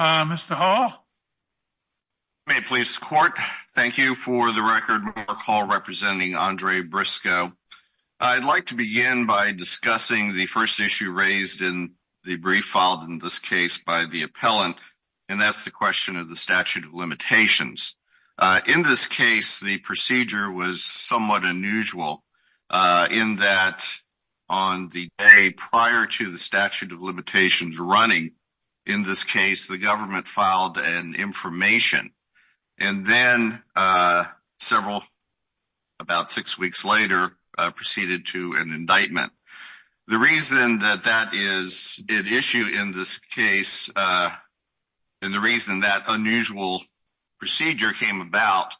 Mr. Hall. May it please the court. Thank you for the record. Mark Hall representing Andre Briscoe. I'd like to begin by discussing the first issue raised in the brief filed in this case by the appellant, and that's the question of the statute of limitations. In this case, the procedure was the government filed an information, and then several, about six weeks later, proceeded to an indictment. The reason that that is at issue in this case, and the reason that unusual procedure came about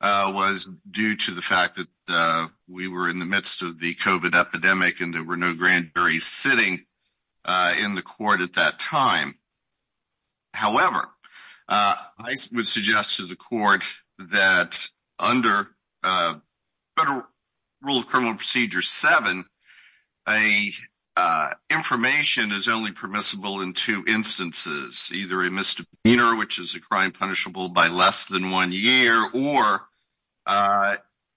was due to the fact that we were in the midst of However, I would suggest to the court that under Federal Rule of Criminal Procedure 7, a information is only permissible in two instances, either a misdemeanor, which is a crime punishable by less than one year, or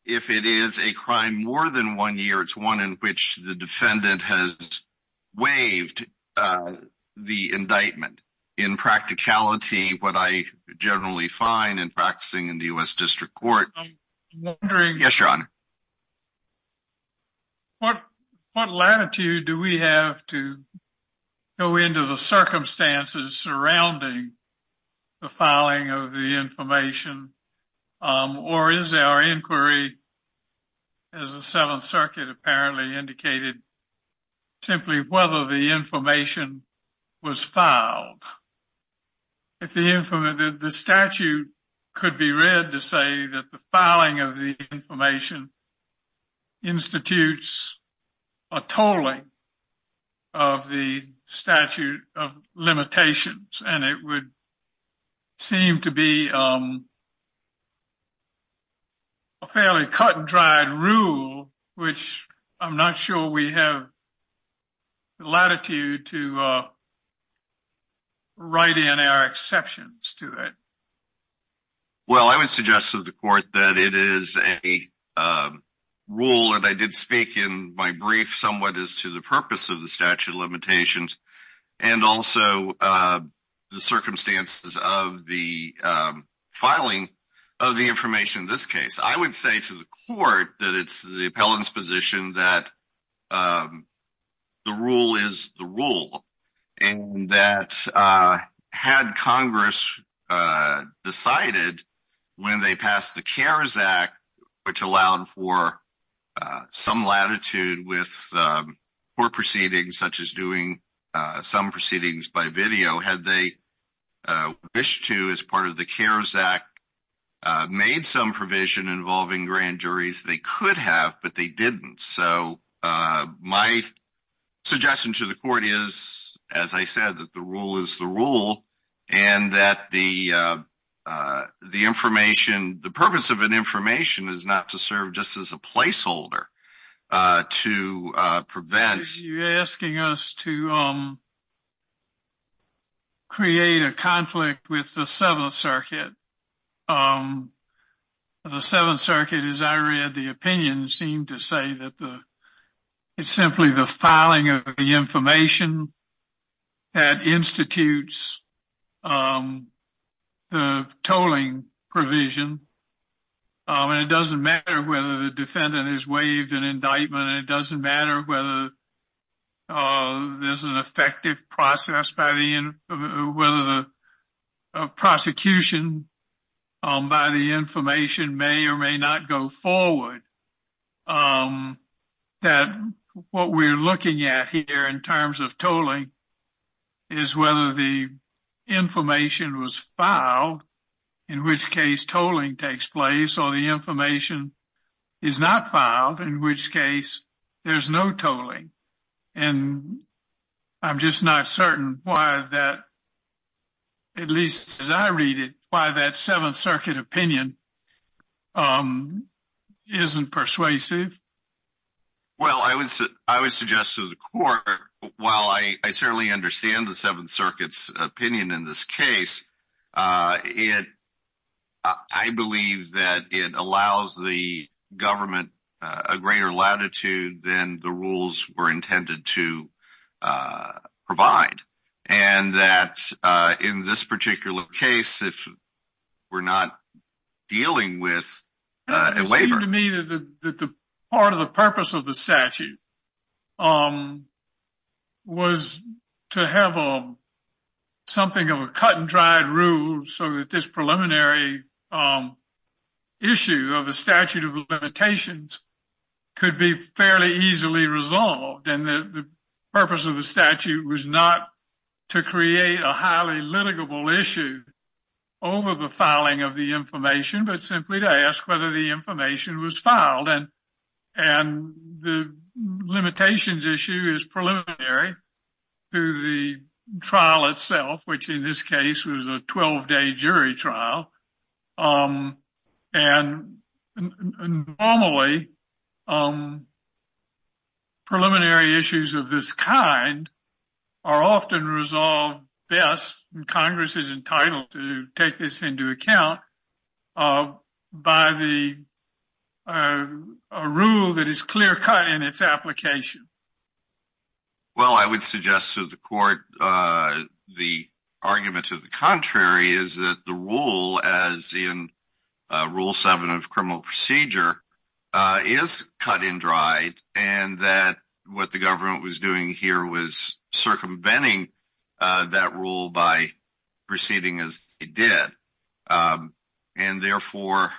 if it is a crime more than one year, it's one in which the defendant has waived the indictment. In practicality, what I generally find in practicing in the U.S. District Court. Yes, Your Honor. What latitude do we have to go into the circumstances surrounding the filing of the information? The statute could be read to say that the filing of the information institutes a tolling of the statute of limitations, and it would seem to be a fairly cut-and-dried rule, which I'm not sure we have the latitude to write in our exceptions to it. Well, I would suggest to the court that it is a rule that I did speak in my brief somewhat as to the purpose of the statute of limitations, and also the circumstances of the filing of the information in this case. I would say to the court that it's the appellant's position that the rule is the rule, and that had Congress decided when they passed the CARES Act, which allowed for some latitude with court proceedings such as doing some proceedings by video, had they wished to, as part of the CARES Act, made some provision involving grand juries, they could have, but they didn't. So my suggestion to the court is, as I said, that the rule is the rule, and that the purpose of an information is not to serve just as a placeholder. You're asking us to create a conflict with the Seventh Circuit. The Seventh Circuit, as I read the opinion, seemed to say that it's simply the filing of the information that institutes the tolling provision, and it doesn't matter whether the defendant is waived an indictment, and it doesn't matter whether there's an effective process, whether the prosecution by the information may or may not go forward. Um, that what we're looking at here in terms of tolling is whether the information was filed, in which case tolling takes place, or the information is not filed, in which case there's no tolling. And I'm just not certain why that, at least as I read it, why that Seventh Circuit wasn't persuasive. Well, I would suggest to the court, while I certainly understand the Seventh Circuit's opinion in this case, I believe that it allows the government a greater latitude than the rules were intended to provide, and that in this particular case, if we're not dealing with a waiver. It seemed to me that the part of the purpose of the statute was to have something of a cut and dried rule so that this preliminary issue of the statute of limitations could be fairly easily resolved, and the purpose of the statute of limitations is not to ask questions, but simply to ask whether the information was filed. And the limitations issue is preliminary to the trial itself, which in this case was a 12-day jury trial. And normally, preliminary issues of this kind are often resolved best, and Congress is entitled to take this into account, by the rule that is clear-cut in its application. Well, I would suggest to the court the argument to the contrary is that the rule as in Rule 7 of criminal procedure is cut and dried, and that what the government was doing here was did. And therefore,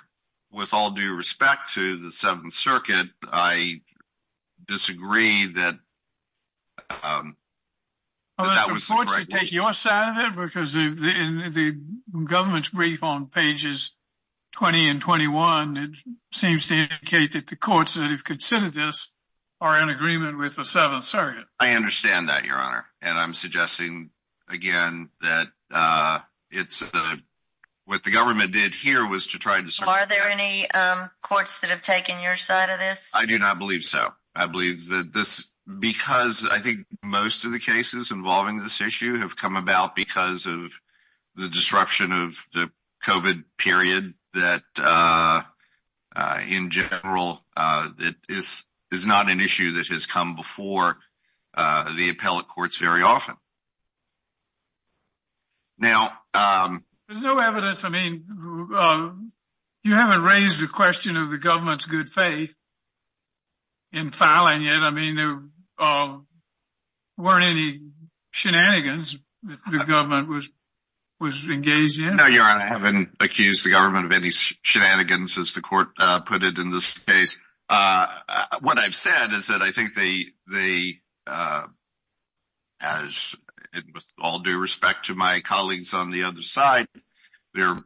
with all due respect to the Seventh Circuit, I disagree that that was the right way. Well, it's important to take your side of it, because in the government's brief on pages 20 and 21, it seems to indicate that the courts that have considered this are in agreement with Seventh Circuit. I understand that, Your Honor, and I'm suggesting again that what the government did here was to try to... Are there any courts that have taken your side of this? I do not believe so. I believe that this, because I think most of the cases involving this issue have come about because of the disruption of the COVID period that, in general, is not an issue that has come before the appellate courts very often. There's no evidence. I mean, you haven't raised the question of the government's good faith in filing it. I mean, there weren't any shenanigans that the government was engaged in. No, Your Honor, I haven't accused the government of any shenanigans, as the court put it in this case. What I've said is that I think they, as with all due respect to my colleagues on the other side, they're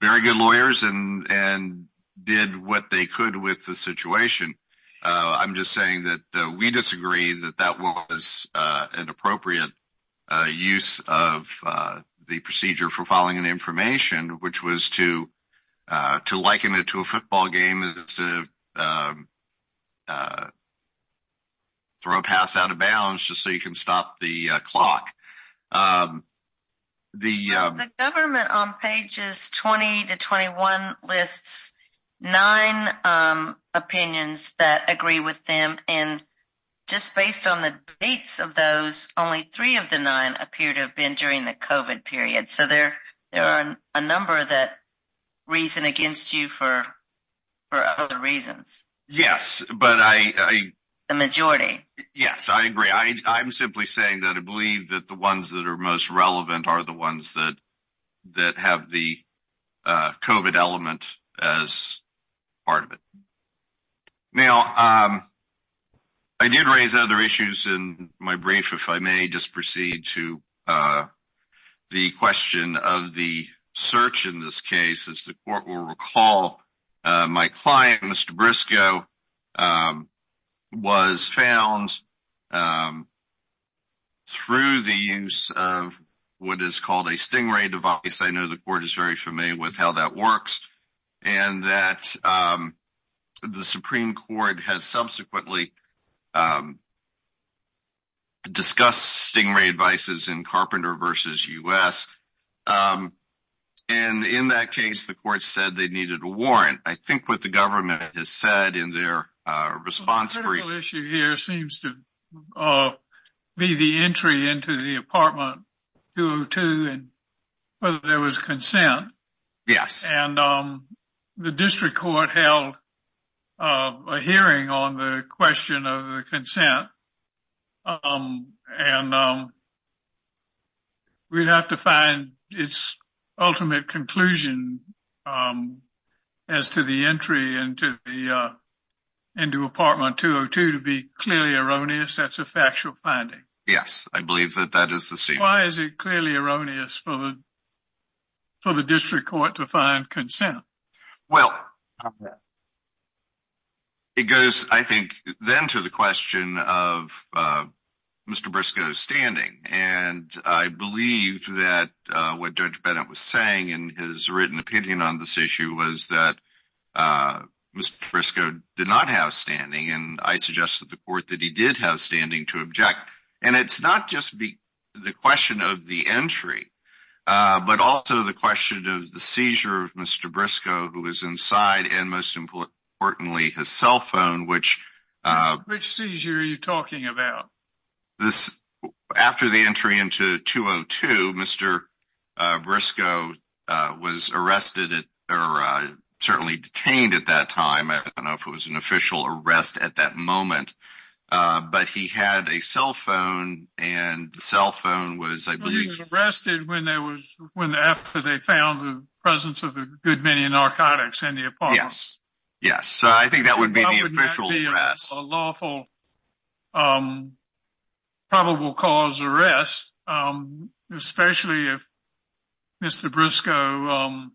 very good lawyers and did what they could with the situation. I'm just saying that we disagree that that was an appropriate use of the procedure for filing an information, which was to liken it to a football game as to throw a pass out of bounds just so you can stop the clock. The government on pages 20 to 21 lists nine opinions that agree with them, and just based on the dates of those, only three of the nine appear to have been during the COVID period, so there are a number that reason against you for other reasons. Yes, but I... The majority. Yes, I agree. I'm simply saying that I believe that the ones that are most relevant are the ones that have the COVID element as part of it. Now, I did raise other issues in my brief, if I may just proceed to the question of the search in this case. As the court will recall, my client, Mr. Briscoe, was found through the use of what is called a stingray device. I know the court is very familiar with how that works, and that the Supreme Court has subsequently discussed stingray devices in Carpenter v. U.S. And in that case, the court said they needed a warrant. I think what the government has said in their response... The issue here seems to be the entry into the apartment 202 and whether there was consent. Yes. And the district court held a hearing on the question of the consent, and we'd have to find its ultimate conclusion as to the entry into the apartment 202 to be clearly erroneous. That's a factual finding. Yes, I believe that that is the statement. Why is it clearly erroneous for the district court to find consent? Well, it goes, I think, then to the question of Mr. Briscoe's standing. And I believe that what Judge Bennett was saying in his written opinion on this issue was that Mr. Briscoe did not have standing, and I suggested to the court that he did have standing to object. And it's not just the question of the entry, but also the question of the seizure of Mr. Briscoe, who was inside, and most importantly, his cell phone, which... Which seizure are you talking about? After the entry into 202, Mr. Briscoe was arrested or certainly detained at that time. I don't know if it was an official arrest at that moment, but he had a cell phone, and the cell phone was, I believe... He was arrested after they found the presence of a good many narcotics in the apartment. Yes, yes. So I think that would be the official arrest. That would not be a lawful, probable cause arrest, especially if Mr. Briscoe had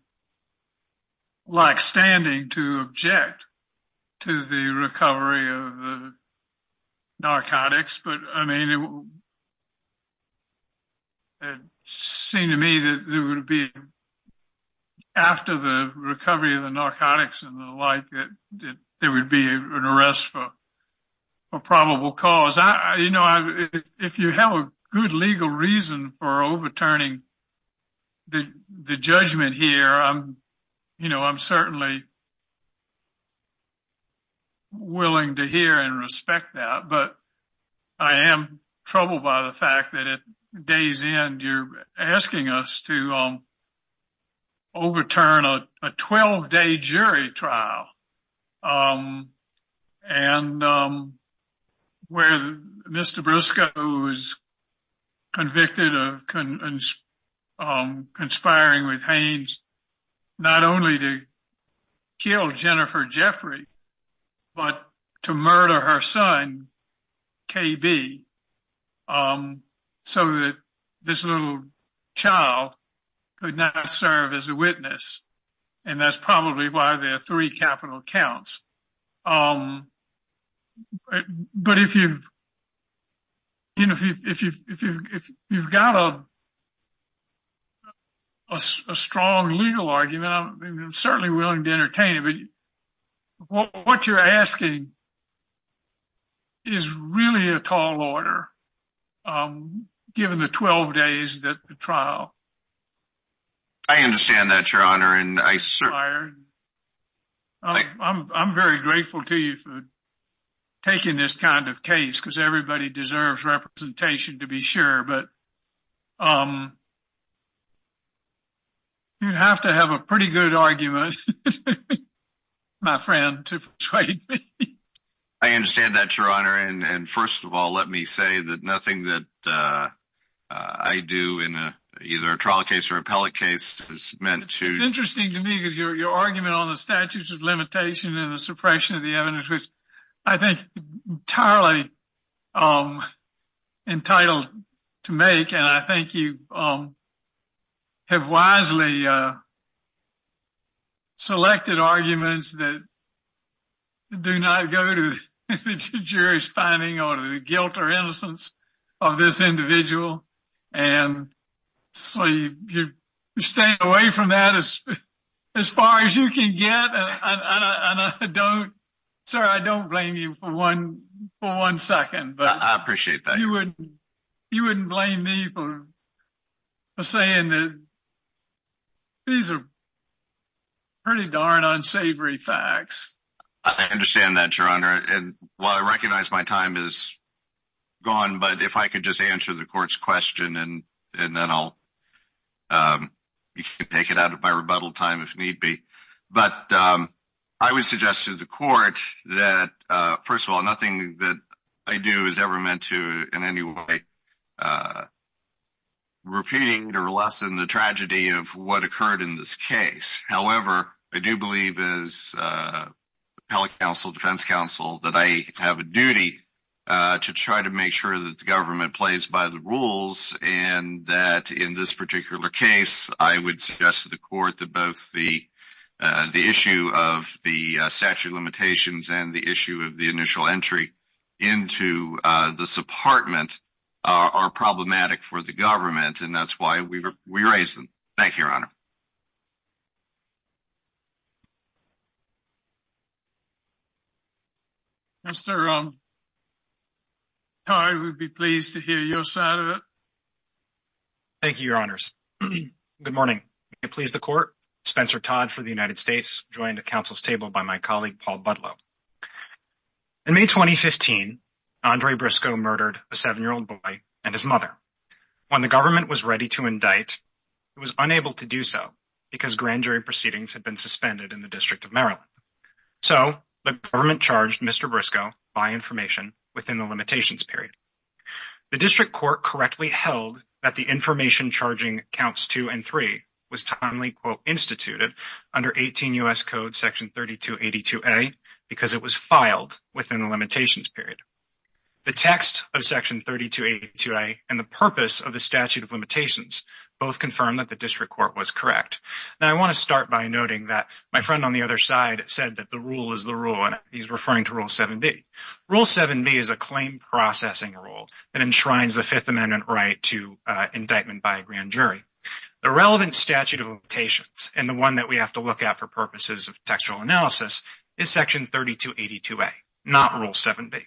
not had standing to object to the recovery of the narcotics. But, I mean, it seemed to me that there would be, after the recovery of the narcotics and the like, there would be an arrest for probable cause. You know, if you have a good legal reason for you know, I'm certainly willing to hear and respect that, but I am troubled by the fact that at day's end, you're asking us to overturn a 12-day jury trial. And where Mr. Briscoe was convicted of conspiring with Hanes, not only to kill Jennifer Jeffrey, but to murder her son, KB, so that this little child could not serve as a witness. And that's probably why there are three capital counts. But if you've got a strong legal argument, I'm certainly willing to entertain it, but what you're asking is really a tall order, given the 12 days that the trial. I understand that, Your Honor. I'm very grateful to you for taking this kind of case, because everybody deserves representation, to be sure. But you'd have to have a pretty good argument, my friend, to persuade me. I understand that, Your Honor. And first of all, let me say that nothing that I do in either a trial case or appellate case is meant to... It's interesting to me, because your argument on the statutes of limitation and the suppression of the evidence, which I think entirely entitled to make, and I think you have wisely selected arguments that do not go to the jury's finding or to the guilt or innocence of this individual. And so you're staying away from that as far as you can get. And I don't... Sir, I don't blame you for one second. I appreciate that. You wouldn't blame me for saying that these are pretty darn unsavory facts. I understand that, Your Honor. And while I recognize my time is gone, but if I could just answer the court's question and then I'll take it out of my rebuttal time if need be. But I would suggest to the court that, first of all, nothing that I do is ever meant to in any way repeating or lessen the tragedy of what occurred in this case. However, I do believe as appellate counsel, defense counsel, that I have a duty to try to make sure that the government plays by the rules and that in this particular case, I would suggest to the court that both the initial entry into this apartment are problematic for the government and that's why we raise them. Thank you, Your Honor. Mr. Todd, we'd be pleased to hear your side of it. Thank you, Your Honors. Good morning. May it please the court, Spencer Todd for the United States, joined at council's table by my colleague, Paul Budlow. In May 2015, Andre Briscoe murdered a seven-year-old boy and his mother. When the government was ready to indict, it was unable to do so because grand jury proceedings had been suspended in the District of Maryland. So, the government charged Mr. Briscoe by information within the limitations period. The district court correctly held that the information charging counts two and three was timely, quote, instituted under 18 U.S. Code section 3282A because it was filed within the limitations period. The text of section 3282A and the purpose of the statute of limitations both confirmed that the district court was correct. Now, I want to start by noting that my friend on the other side said that the rule is the rule and he's referring to Rule 7B. Rule 7B is a claim processing rule that enshrines the Fifth Amendment right to the relevant statute of limitations and the one that we have to look at for purposes of textual analysis is section 3282A, not Rule 7B.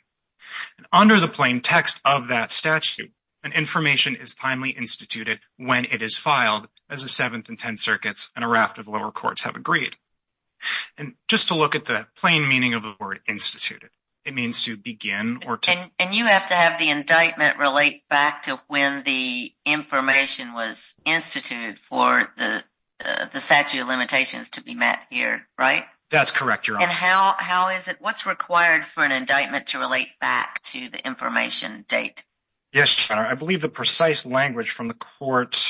Under the plain text of that statute, an information is timely instituted when it is filed as the Seventh and Tenth Circuits and a raft of lower courts have agreed. And just to look at the plain meaning of the word instituted, it means to begin or to... And you have to have the indictment relate back to when the information was instituted for the statute of limitations to be met here, right? That's correct, Your Honor. And how is it, what's required for an indictment to relate back to the information date? Yes, Your Honor. I believe the precise language from the court,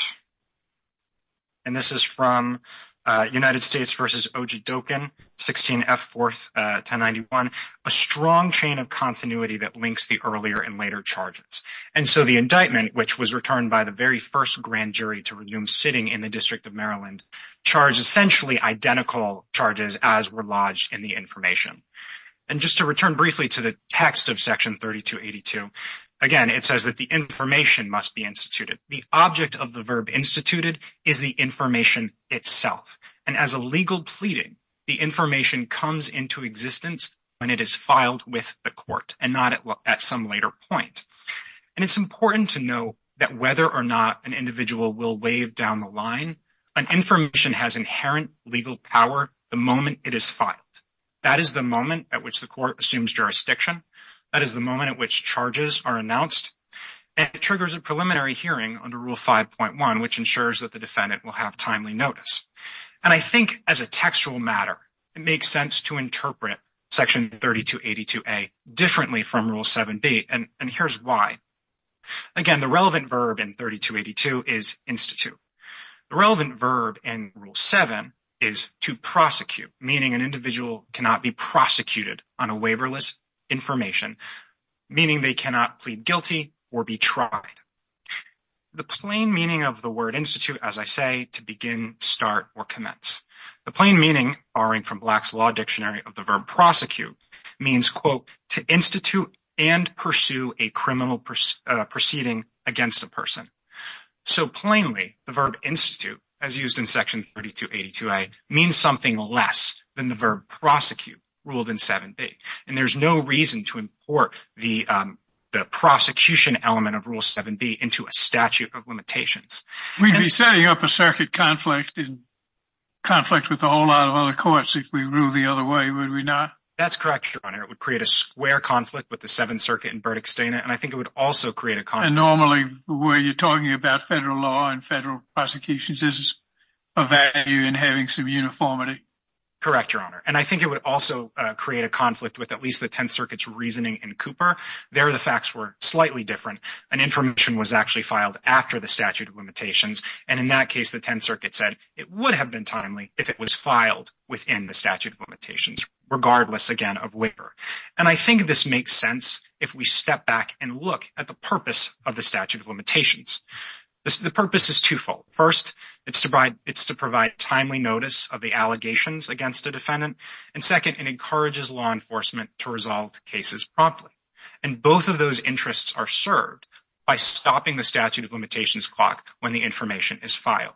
and this is from United States v. Ojedokin, 16 F. 4th, 1091, a strong chain of continuity that links the earlier and later charges. And so the indictment, which was returned by the very first grand jury to resume sitting in the District of Maryland, charged essentially identical charges as were lodged in the information. And just to return briefly to the text of section 3282, again, it says that the information must be instituted. The object of the verb instituted is the information itself. And as a legal pleading, the information comes into existence when it is filed with the point. And it's important to know that whether or not an individual will waive down the line, an information has inherent legal power the moment it is filed. That is the moment at which the court assumes jurisdiction. That is the moment at which charges are announced. And it triggers a preliminary hearing under Rule 5.1, which ensures that the defendant will have timely notice. And I think as a textual matter, it makes sense to interpret Section 3282A differently from Rule 7b, and here's why. Again, the relevant verb in 3282 is institute. The relevant verb in Rule 7 is to prosecute, meaning an individual cannot be prosecuted on a waiverless information, meaning they cannot plead guilty or be tried. The plain meaning of the word institute, as I say, to begin, start, or commence. The plain meaning, borrowing from Black's Law Dictionary of the verb prosecute, means, quote, to institute and pursue a criminal proceeding against a person. So plainly, the verb institute, as used in Section 3282A, means something less than the verb prosecute, ruled in 7b. And there's no reason to import the prosecution element of Rule 7b into a statute of limitations. We'd be setting up a circuit conflict in conflict with a whole lot of other courts if we ruled the other way, would we not? That's correct, Your Honor. It would create a square conflict with the Seventh Circuit in Burdick-Steina, and I think it would also create a conflict. And normally, the way you're talking about federal law and federal prosecutions is a value in having some uniformity. Correct, Your Honor. And I think it would also create a conflict with at least the Tenth Circuit's reasoning in Cooper. There, the facts were slightly different, and information was actually filed after the statute of limitations, and in that case, the Tenth Circuit said it would have been timely if it was filed within the statute of limitations, regardless, again, of waiver. And I think this makes sense if we step back and look at the purpose of the statute of limitations. The purpose is twofold. First, it's to provide timely notice of the allegations against a defendant, and second, it encourages law enforcement to resolve cases promptly. And both of those interests are served by stopping the statute of limitations clock when the information is filed,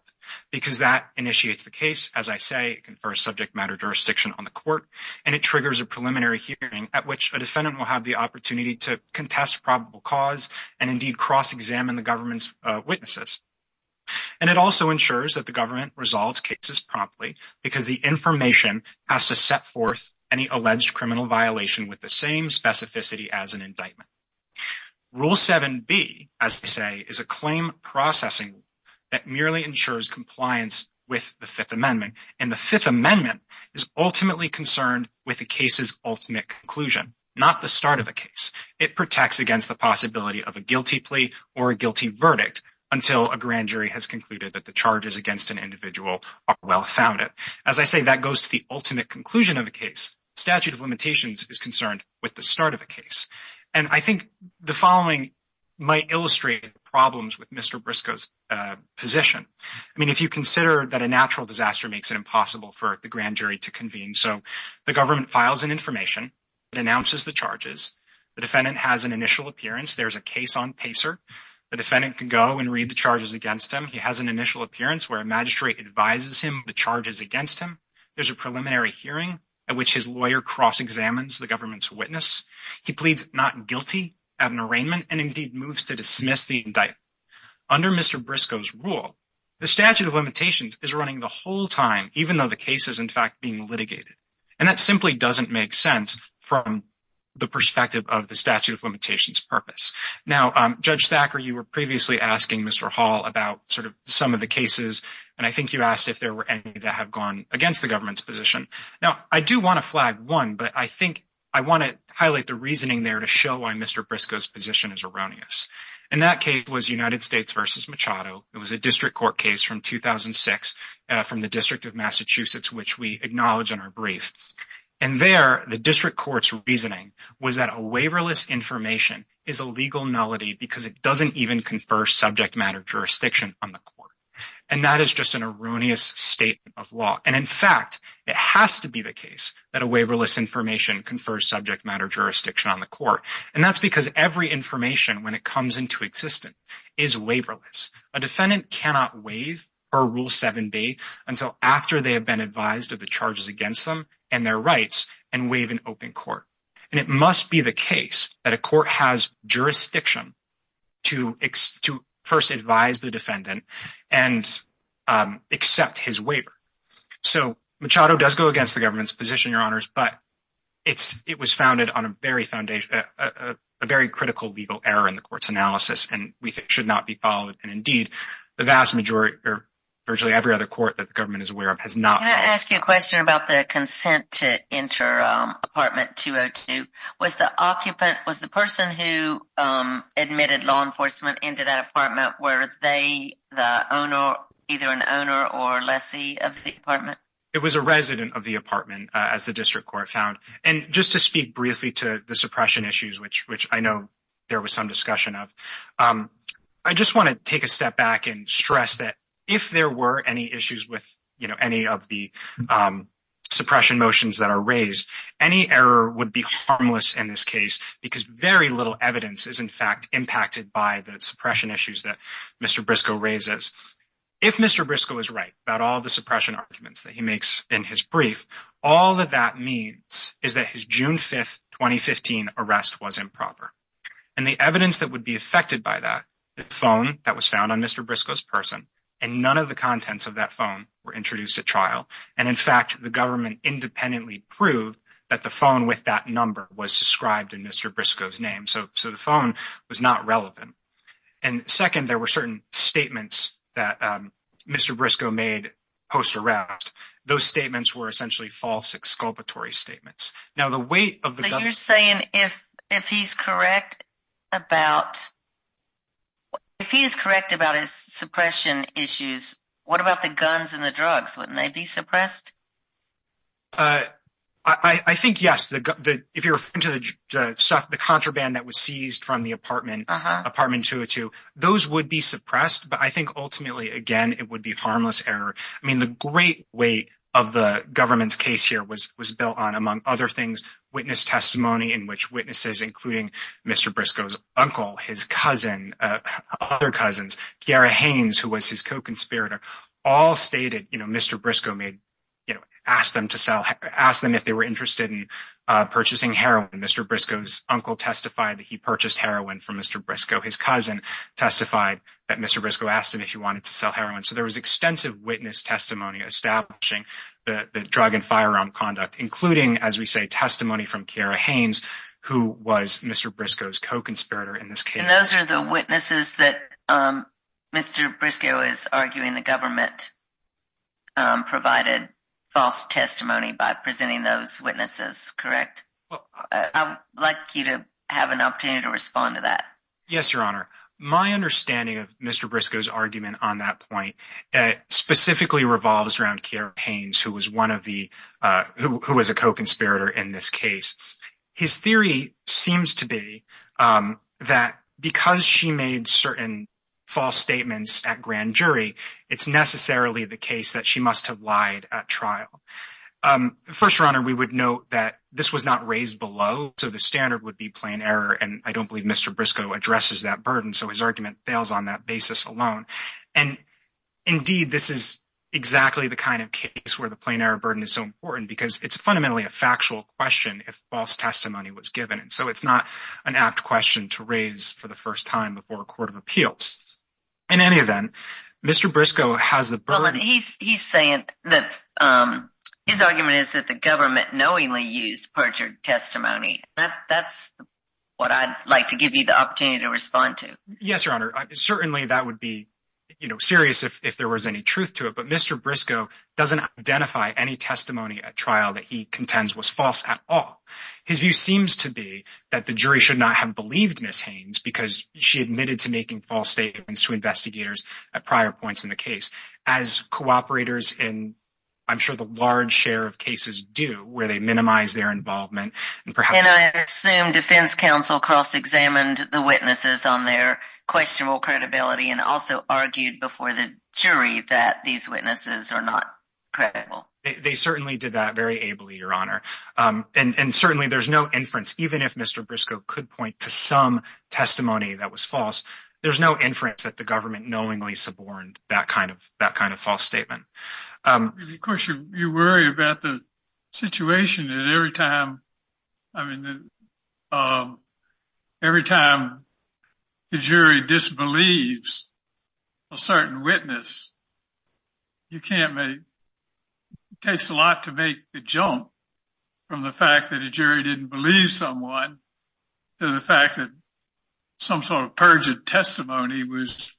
because that initiates the case. As I say, it confers subject matter jurisdiction on the court, and it triggers a preliminary hearing at which a defendant will have the opportunity to contest probable cause and indeed cross-examine the government's witnesses. And it also ensures that the government resolves cases promptly, because the information has to set forth any alleged criminal violation with the same specificity as an indictment. Rule 7b, as they say, is a claim processing that merely ensures compliance with the Fifth Amendment. And the Fifth Amendment is ultimately concerned with the case's ultimate conclusion, not the start of a case. It protects against the possibility of a guilty plea or a guilty verdict until a grand jury has concluded that the charges against an individual are well founded. As I say, that goes to the ultimate conclusion of a case. The statute of limitations is concerned with the start of a case. And I think the following might illustrate the problems with Mr. Briscoe's position. I mean, if you consider that a natural disaster makes it impossible for the grand jury to convene. So the government files an information that announces the charges. The defendant has an initial appearance. There's a case on PACER. The defendant can go and read the charges against him. He has an initial appearance where a magistrate advises him the charges against him. There's a preliminary hearing at which his guilty of an arraignment and indeed moves to dismiss the indictment. Under Mr. Briscoe's rule, the statute of limitations is running the whole time, even though the case is, in fact, being litigated. And that simply doesn't make sense from the perspective of the statute of limitations purpose. Now, Judge Thacker, you were previously asking Mr. Hall about sort of some of the cases, and I think you asked if there were any that have gone against the government's position. Now, I do want to flag one, but I think I want to highlight the reasoning there to show why Mr. Briscoe's position is erroneous. And that case was United States v. Machado. It was a district court case from 2006 from the District of Massachusetts, which we acknowledge in our brief. And there, the district court's reasoning was that a waiverless information is a legal nullity because it doesn't even confer subject matter jurisdiction on the court. And that is just an that a waiverless information confers subject matter jurisdiction on the court. And that's because every information, when it comes into existence, is waiverless. A defendant cannot waive or Rule 7b until after they have been advised of the charges against them and their rights and waive an open court. And it must be the case that a court has jurisdiction to first advise the defendant and accept his waiver. So Machado does go against the government's position, Your Honors, but it was founded on a very critical legal error in the court's analysis, and we think should not be followed. And indeed, the vast majority or virtually every other court that the government is aware of has not. Can I ask you a question about the consent to enter apartment 202. Was the occupant, was the person who admitted law enforcement into that apartment, were they the owner, either an owner or lessee of the apartment? It was a resident of the apartment, as the district court found. And just to speak briefly to the suppression issues, which I know there was some discussion of, I just want to take a step back and stress that if there were any of the suppression motions that are raised, any error would be harmless in this case because very little evidence is in fact impacted by the suppression issues that Mr. Briscoe raises. If Mr. Briscoe is right about all the suppression arguments that he makes in his brief, all that that means is that his June 5, 2015 arrest was improper. And the evidence that would be affected by that, the phone that was found on Mr. Briscoe's person, and none of the contents of that phone were introduced at trial. And in fact, the government independently proved that the phone with that number was described in Mr. Briscoe's name. So the phone was not relevant. And second, there were certain statements that Mr. Briscoe made post-arrest. Those statements were essentially false exculpatory statements. Now the weight of the- But you're saying if he's correct about, if he is correct about his suppression issues, what about the guns and the drugs? Wouldn't they be suppressed? I think yes. If you're into the stuff, the contraband that was seized from the apartment 202, those would be suppressed. But I think ultimately, again, it would be harmless error. I mean, the great weight of the government's case here was built on, among other things, witness testimony in which witnesses, including Mr. Briscoe's uncle, his cousin, other cousins, Kiara Haynes, who was his co-conspirator, all stated, you know, Mr. Briscoe made, you know, ask them to sell, ask them if they were interested in purchasing heroin. Mr. Briscoe's uncle testified that he purchased heroin from Mr. Briscoe. His cousin testified that Mr. Briscoe asked him if he wanted to sell heroin. So there was extensive witness testimony establishing the drug and firearm conduct, including, as we say, testimony from Kiara Haynes, who was Mr. Briscoe's co-conspirator in this case. And those are the witnesses that Mr. Briscoe is arguing the government provided false testimony by presenting those witnesses, correct? I'd like you to have an opportunity to respond to that. Yes, Your Honor. My understanding of Mr. Briscoe's argument on that point specifically revolves around Kiara Haynes, who was one of the, who was a co-conspirator in this case. His theory seems to be that because she made certain false statements at grand jury, it's necessarily the case that she must have lied at trial. First, Your Honor, we would note that this was not raised below, so the standard would be plain error. And I don't believe Mr. Briscoe addresses that burden, so his argument fails on that basis alone. And indeed, this is exactly the kind of case where the plain error burden is so important because it's fundamentally a factual question if false testimony was given. So it's not an apt question to raise for the first time before a court of appeals. In any event, Mr. Briscoe has the burden. He's saying that his argument is that the government knowingly used testimony. That's what I'd like to give you the opportunity to respond to. Yes, Your Honor. Certainly, that would be, you know, serious if there was any truth to it. But Mr. Briscoe doesn't identify any testimony at trial that he contends was false at all. His view seems to be that the jury should not have believed Ms. Haynes because she admitted to making false statements to investigators at prior points in the case. As cooperators in, I'm sure, the large share of And I assume defense counsel cross-examined the witnesses on their questionable credibility and also argued before the jury that these witnesses are not credible. They certainly did that very ably, Your Honor. And certainly, there's no inference, even if Mr. Briscoe could point to some testimony that was false, there's no inference that the government knowingly suborned that kind false statement. Of course, you worry about the situation that every time, I mean, every time the jury disbelieves a certain witness, you can't make, it takes a lot to make the jump from the fact that a jury didn't believe someone to the fact that some sort of perjured testimony was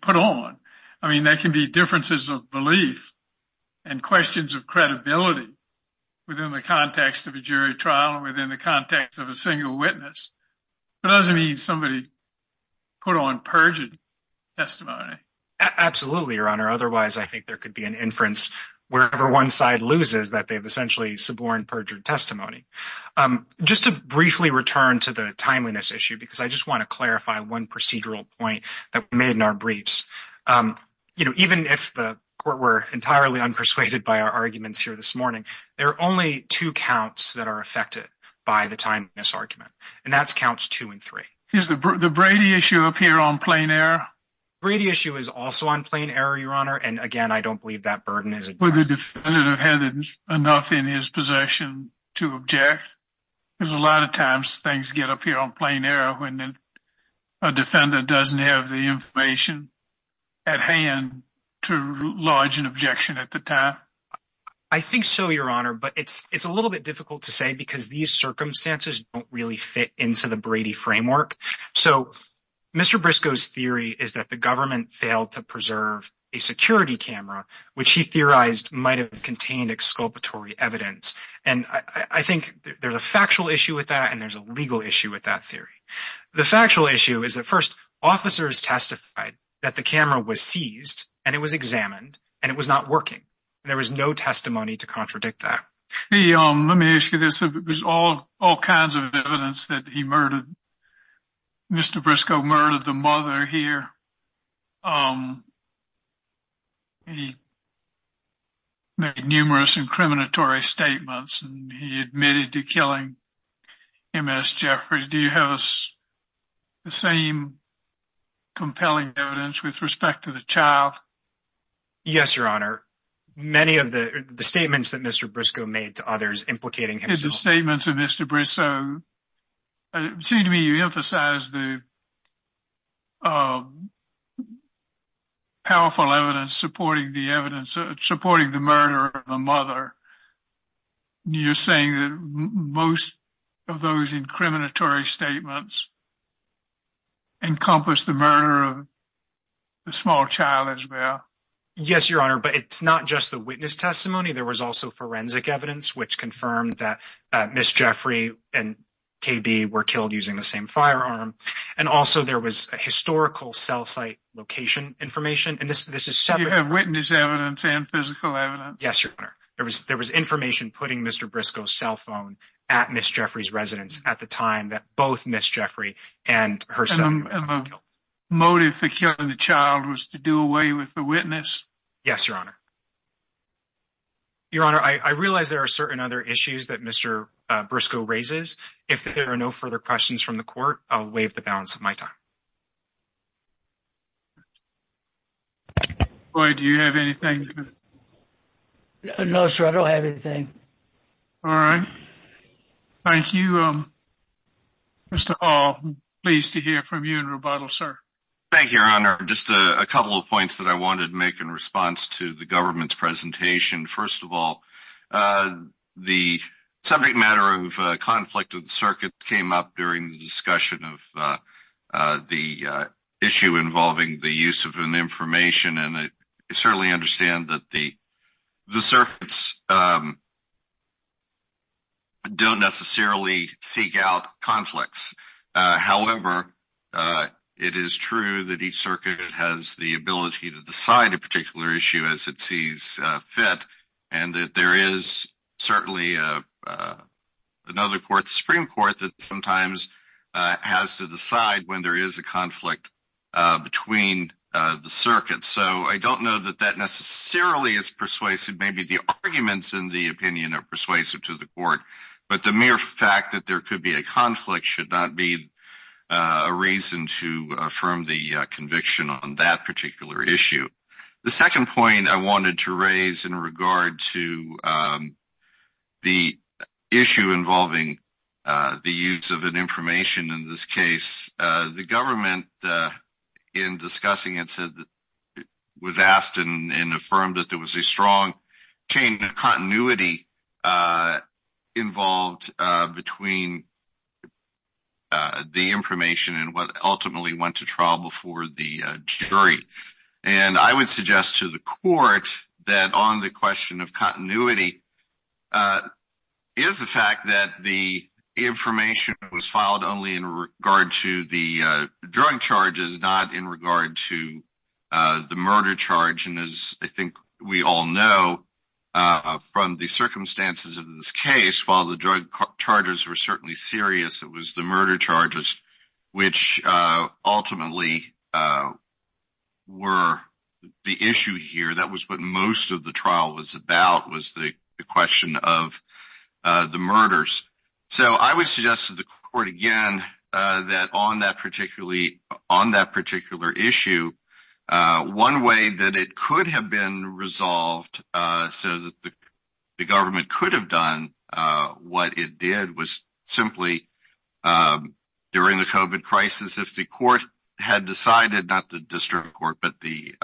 put on. I mean, there can be differences of belief and questions of credibility within the context of a jury trial and within the context of a single witness. It doesn't mean somebody put on perjured testimony. Absolutely, Your Honor. Otherwise, I think there could be an inference wherever one side loses that they've essentially suborned perjured testimony. Just to briefly return to the timeliness issue, because I just want to clarify one procedural point that we made in our briefs. You know, even if the court were entirely unpersuaded by our arguments here this morning, there are only two counts that are affected by the timeliness argument, and that's counts two and three. Is the Brady issue up here on plain error? Brady issue is also on plain error, Your Honor. And again, I don't believe that burden is addressed. Would the defendant have had enough in his possession to object? Because a lot of things get up here on plain error when a defendant doesn't have the information at hand to lodge an objection at the time. I think so, Your Honor. But it's a little bit difficult to say because these circumstances don't really fit into the Brady framework. So Mr. Briscoe's theory is that the government failed to preserve a security camera, which he theorized might have contained exculpatory evidence. And I think there's a factual issue with that, and there's a legal issue with that theory. The factual issue is that, first, officers testified that the camera was seized, and it was examined, and it was not working. There was no testimony to contradict that. Let me ask you this. It was all kinds of evidence that he murdered. Mr. Briscoe murdered the mother here. He made numerous incriminatory statements, and he admitted to killing Ms. Jeffries. Do you have the same compelling evidence with respect to the child? Yes, Your Honor. Many of the statements that Mr. Briscoe made to others implicating himself— It's the statements of Mr. Briscoe. It seems to me you have powerful evidence supporting the murder of the mother. You're saying that most of those incriminatory statements encompass the murder of the small child as well? Yes, Your Honor, but it's not just the witness testimony. There was also forensic evidence which confirmed that historical cell site location information. You have witness evidence and physical evidence? Yes, Your Honor. There was information putting Mr. Briscoe's cell phone at Ms. Jeffries' residence at the time that both Ms. Jeffries and her son were killed. The motive for killing the child was to do away with the witness? Yes, Your Honor. Your Honor, I realize there are certain other issues that Mr. Briscoe raises. If there are no further questions from the Court, I'll waive the balance of my time. Roy, do you have anything? No, sir, I don't have anything. All right. Thank you. Mr. Hall, I'm pleased to hear from you in rebuttal, sir. Thank you, Your Honor. Just a couple of points that I wanted to make in response to the government's presentation. First of all, the subject matter of conflict of the circuit came up during the discussion of the issue involving the use of an information, and I certainly understand that the circuits don't necessarily seek out conflicts. However, it is true that each circuit has the ability to decide a particular issue as it sees fit, and that there is certainly another court, the Supreme Court, that sometimes has to decide when there is a conflict between the circuits. So I don't know that that necessarily is persuasive. Maybe the arguments in the opinion are persuasive to the Court, but the mere fact that there could be a conflict should not be a reason to affirm the conviction on that particular issue. The second point I wanted to raise in regard to the issue involving the use of an information in this case, the government, in discussing it, was asked and affirmed that there was a strong chain of continuity involved between the information and what ultimately went to trial before the jury. And I would suggest to the Court that on the question of continuity is the fact that the information was filed only in regard to the drug charges, not in regard to the murder charge. And as I think we all know from the series, it was the murder charges which ultimately were the issue here. That was what most of the trial was about, was the question of the murders. So I would suggest to the Court again that on that particular issue, one way that it could have been resolved so that the government could have done what it did was simply, during the COVID crisis, if the Court had decided, not the District Court, but the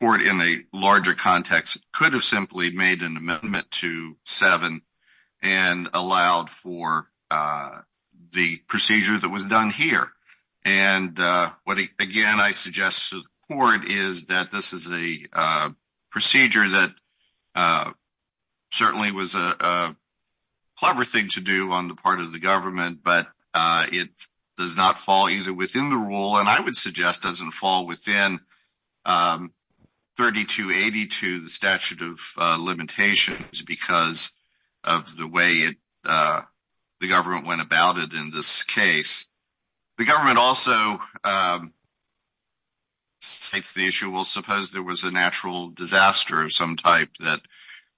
Court in a larger context, could have simply made an amendment to the statute. And I would suggest that this is a procedure that certainly was a clever thing to do on the part of the government, but it does not fall either within the rule, and I would suggest doesn't fall within 3282, the statute of limitations, because of the way the government went about it in this case. The government also states the issue, well suppose there was a natural disaster of some type that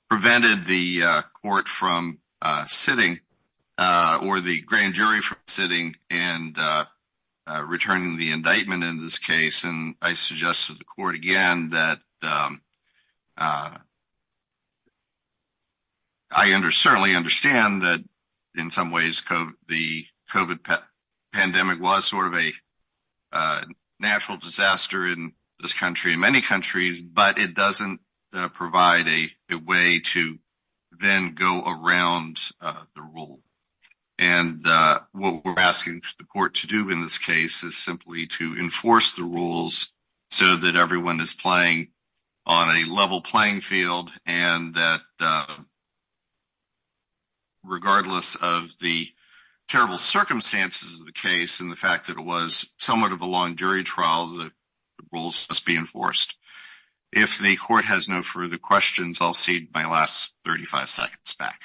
prevented the Court from sitting or the grand jury from sitting and returning the indictment in this case, and I suggest to the Court again that I certainly understand that in some ways the COVID pandemic was sort of a natural disaster in this country and many countries, but it doesn't provide a way to then go around the rule. And what we're asking the Court to do in this case is simply to enforce the rules so that everyone is playing on a level playing field and that regardless of the terrible circumstances of the case and the fact that it was somewhat of a long jury trial, the rules must be enforced. If the Court has no further questions, I'll cede my last 35 seconds back.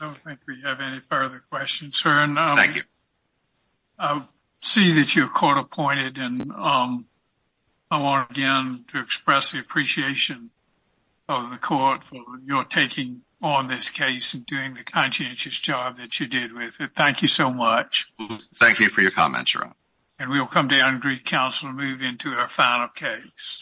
I don't think we have any further questions, sir. Thank you. I see that you're Court appointed and I want again to express the appreciation of the Court for your taking on this case and doing the conscientious job that you did with it. Thank you so much. Thank you for your comments, Your Honor. And we will come down to recounsel and move into our final case.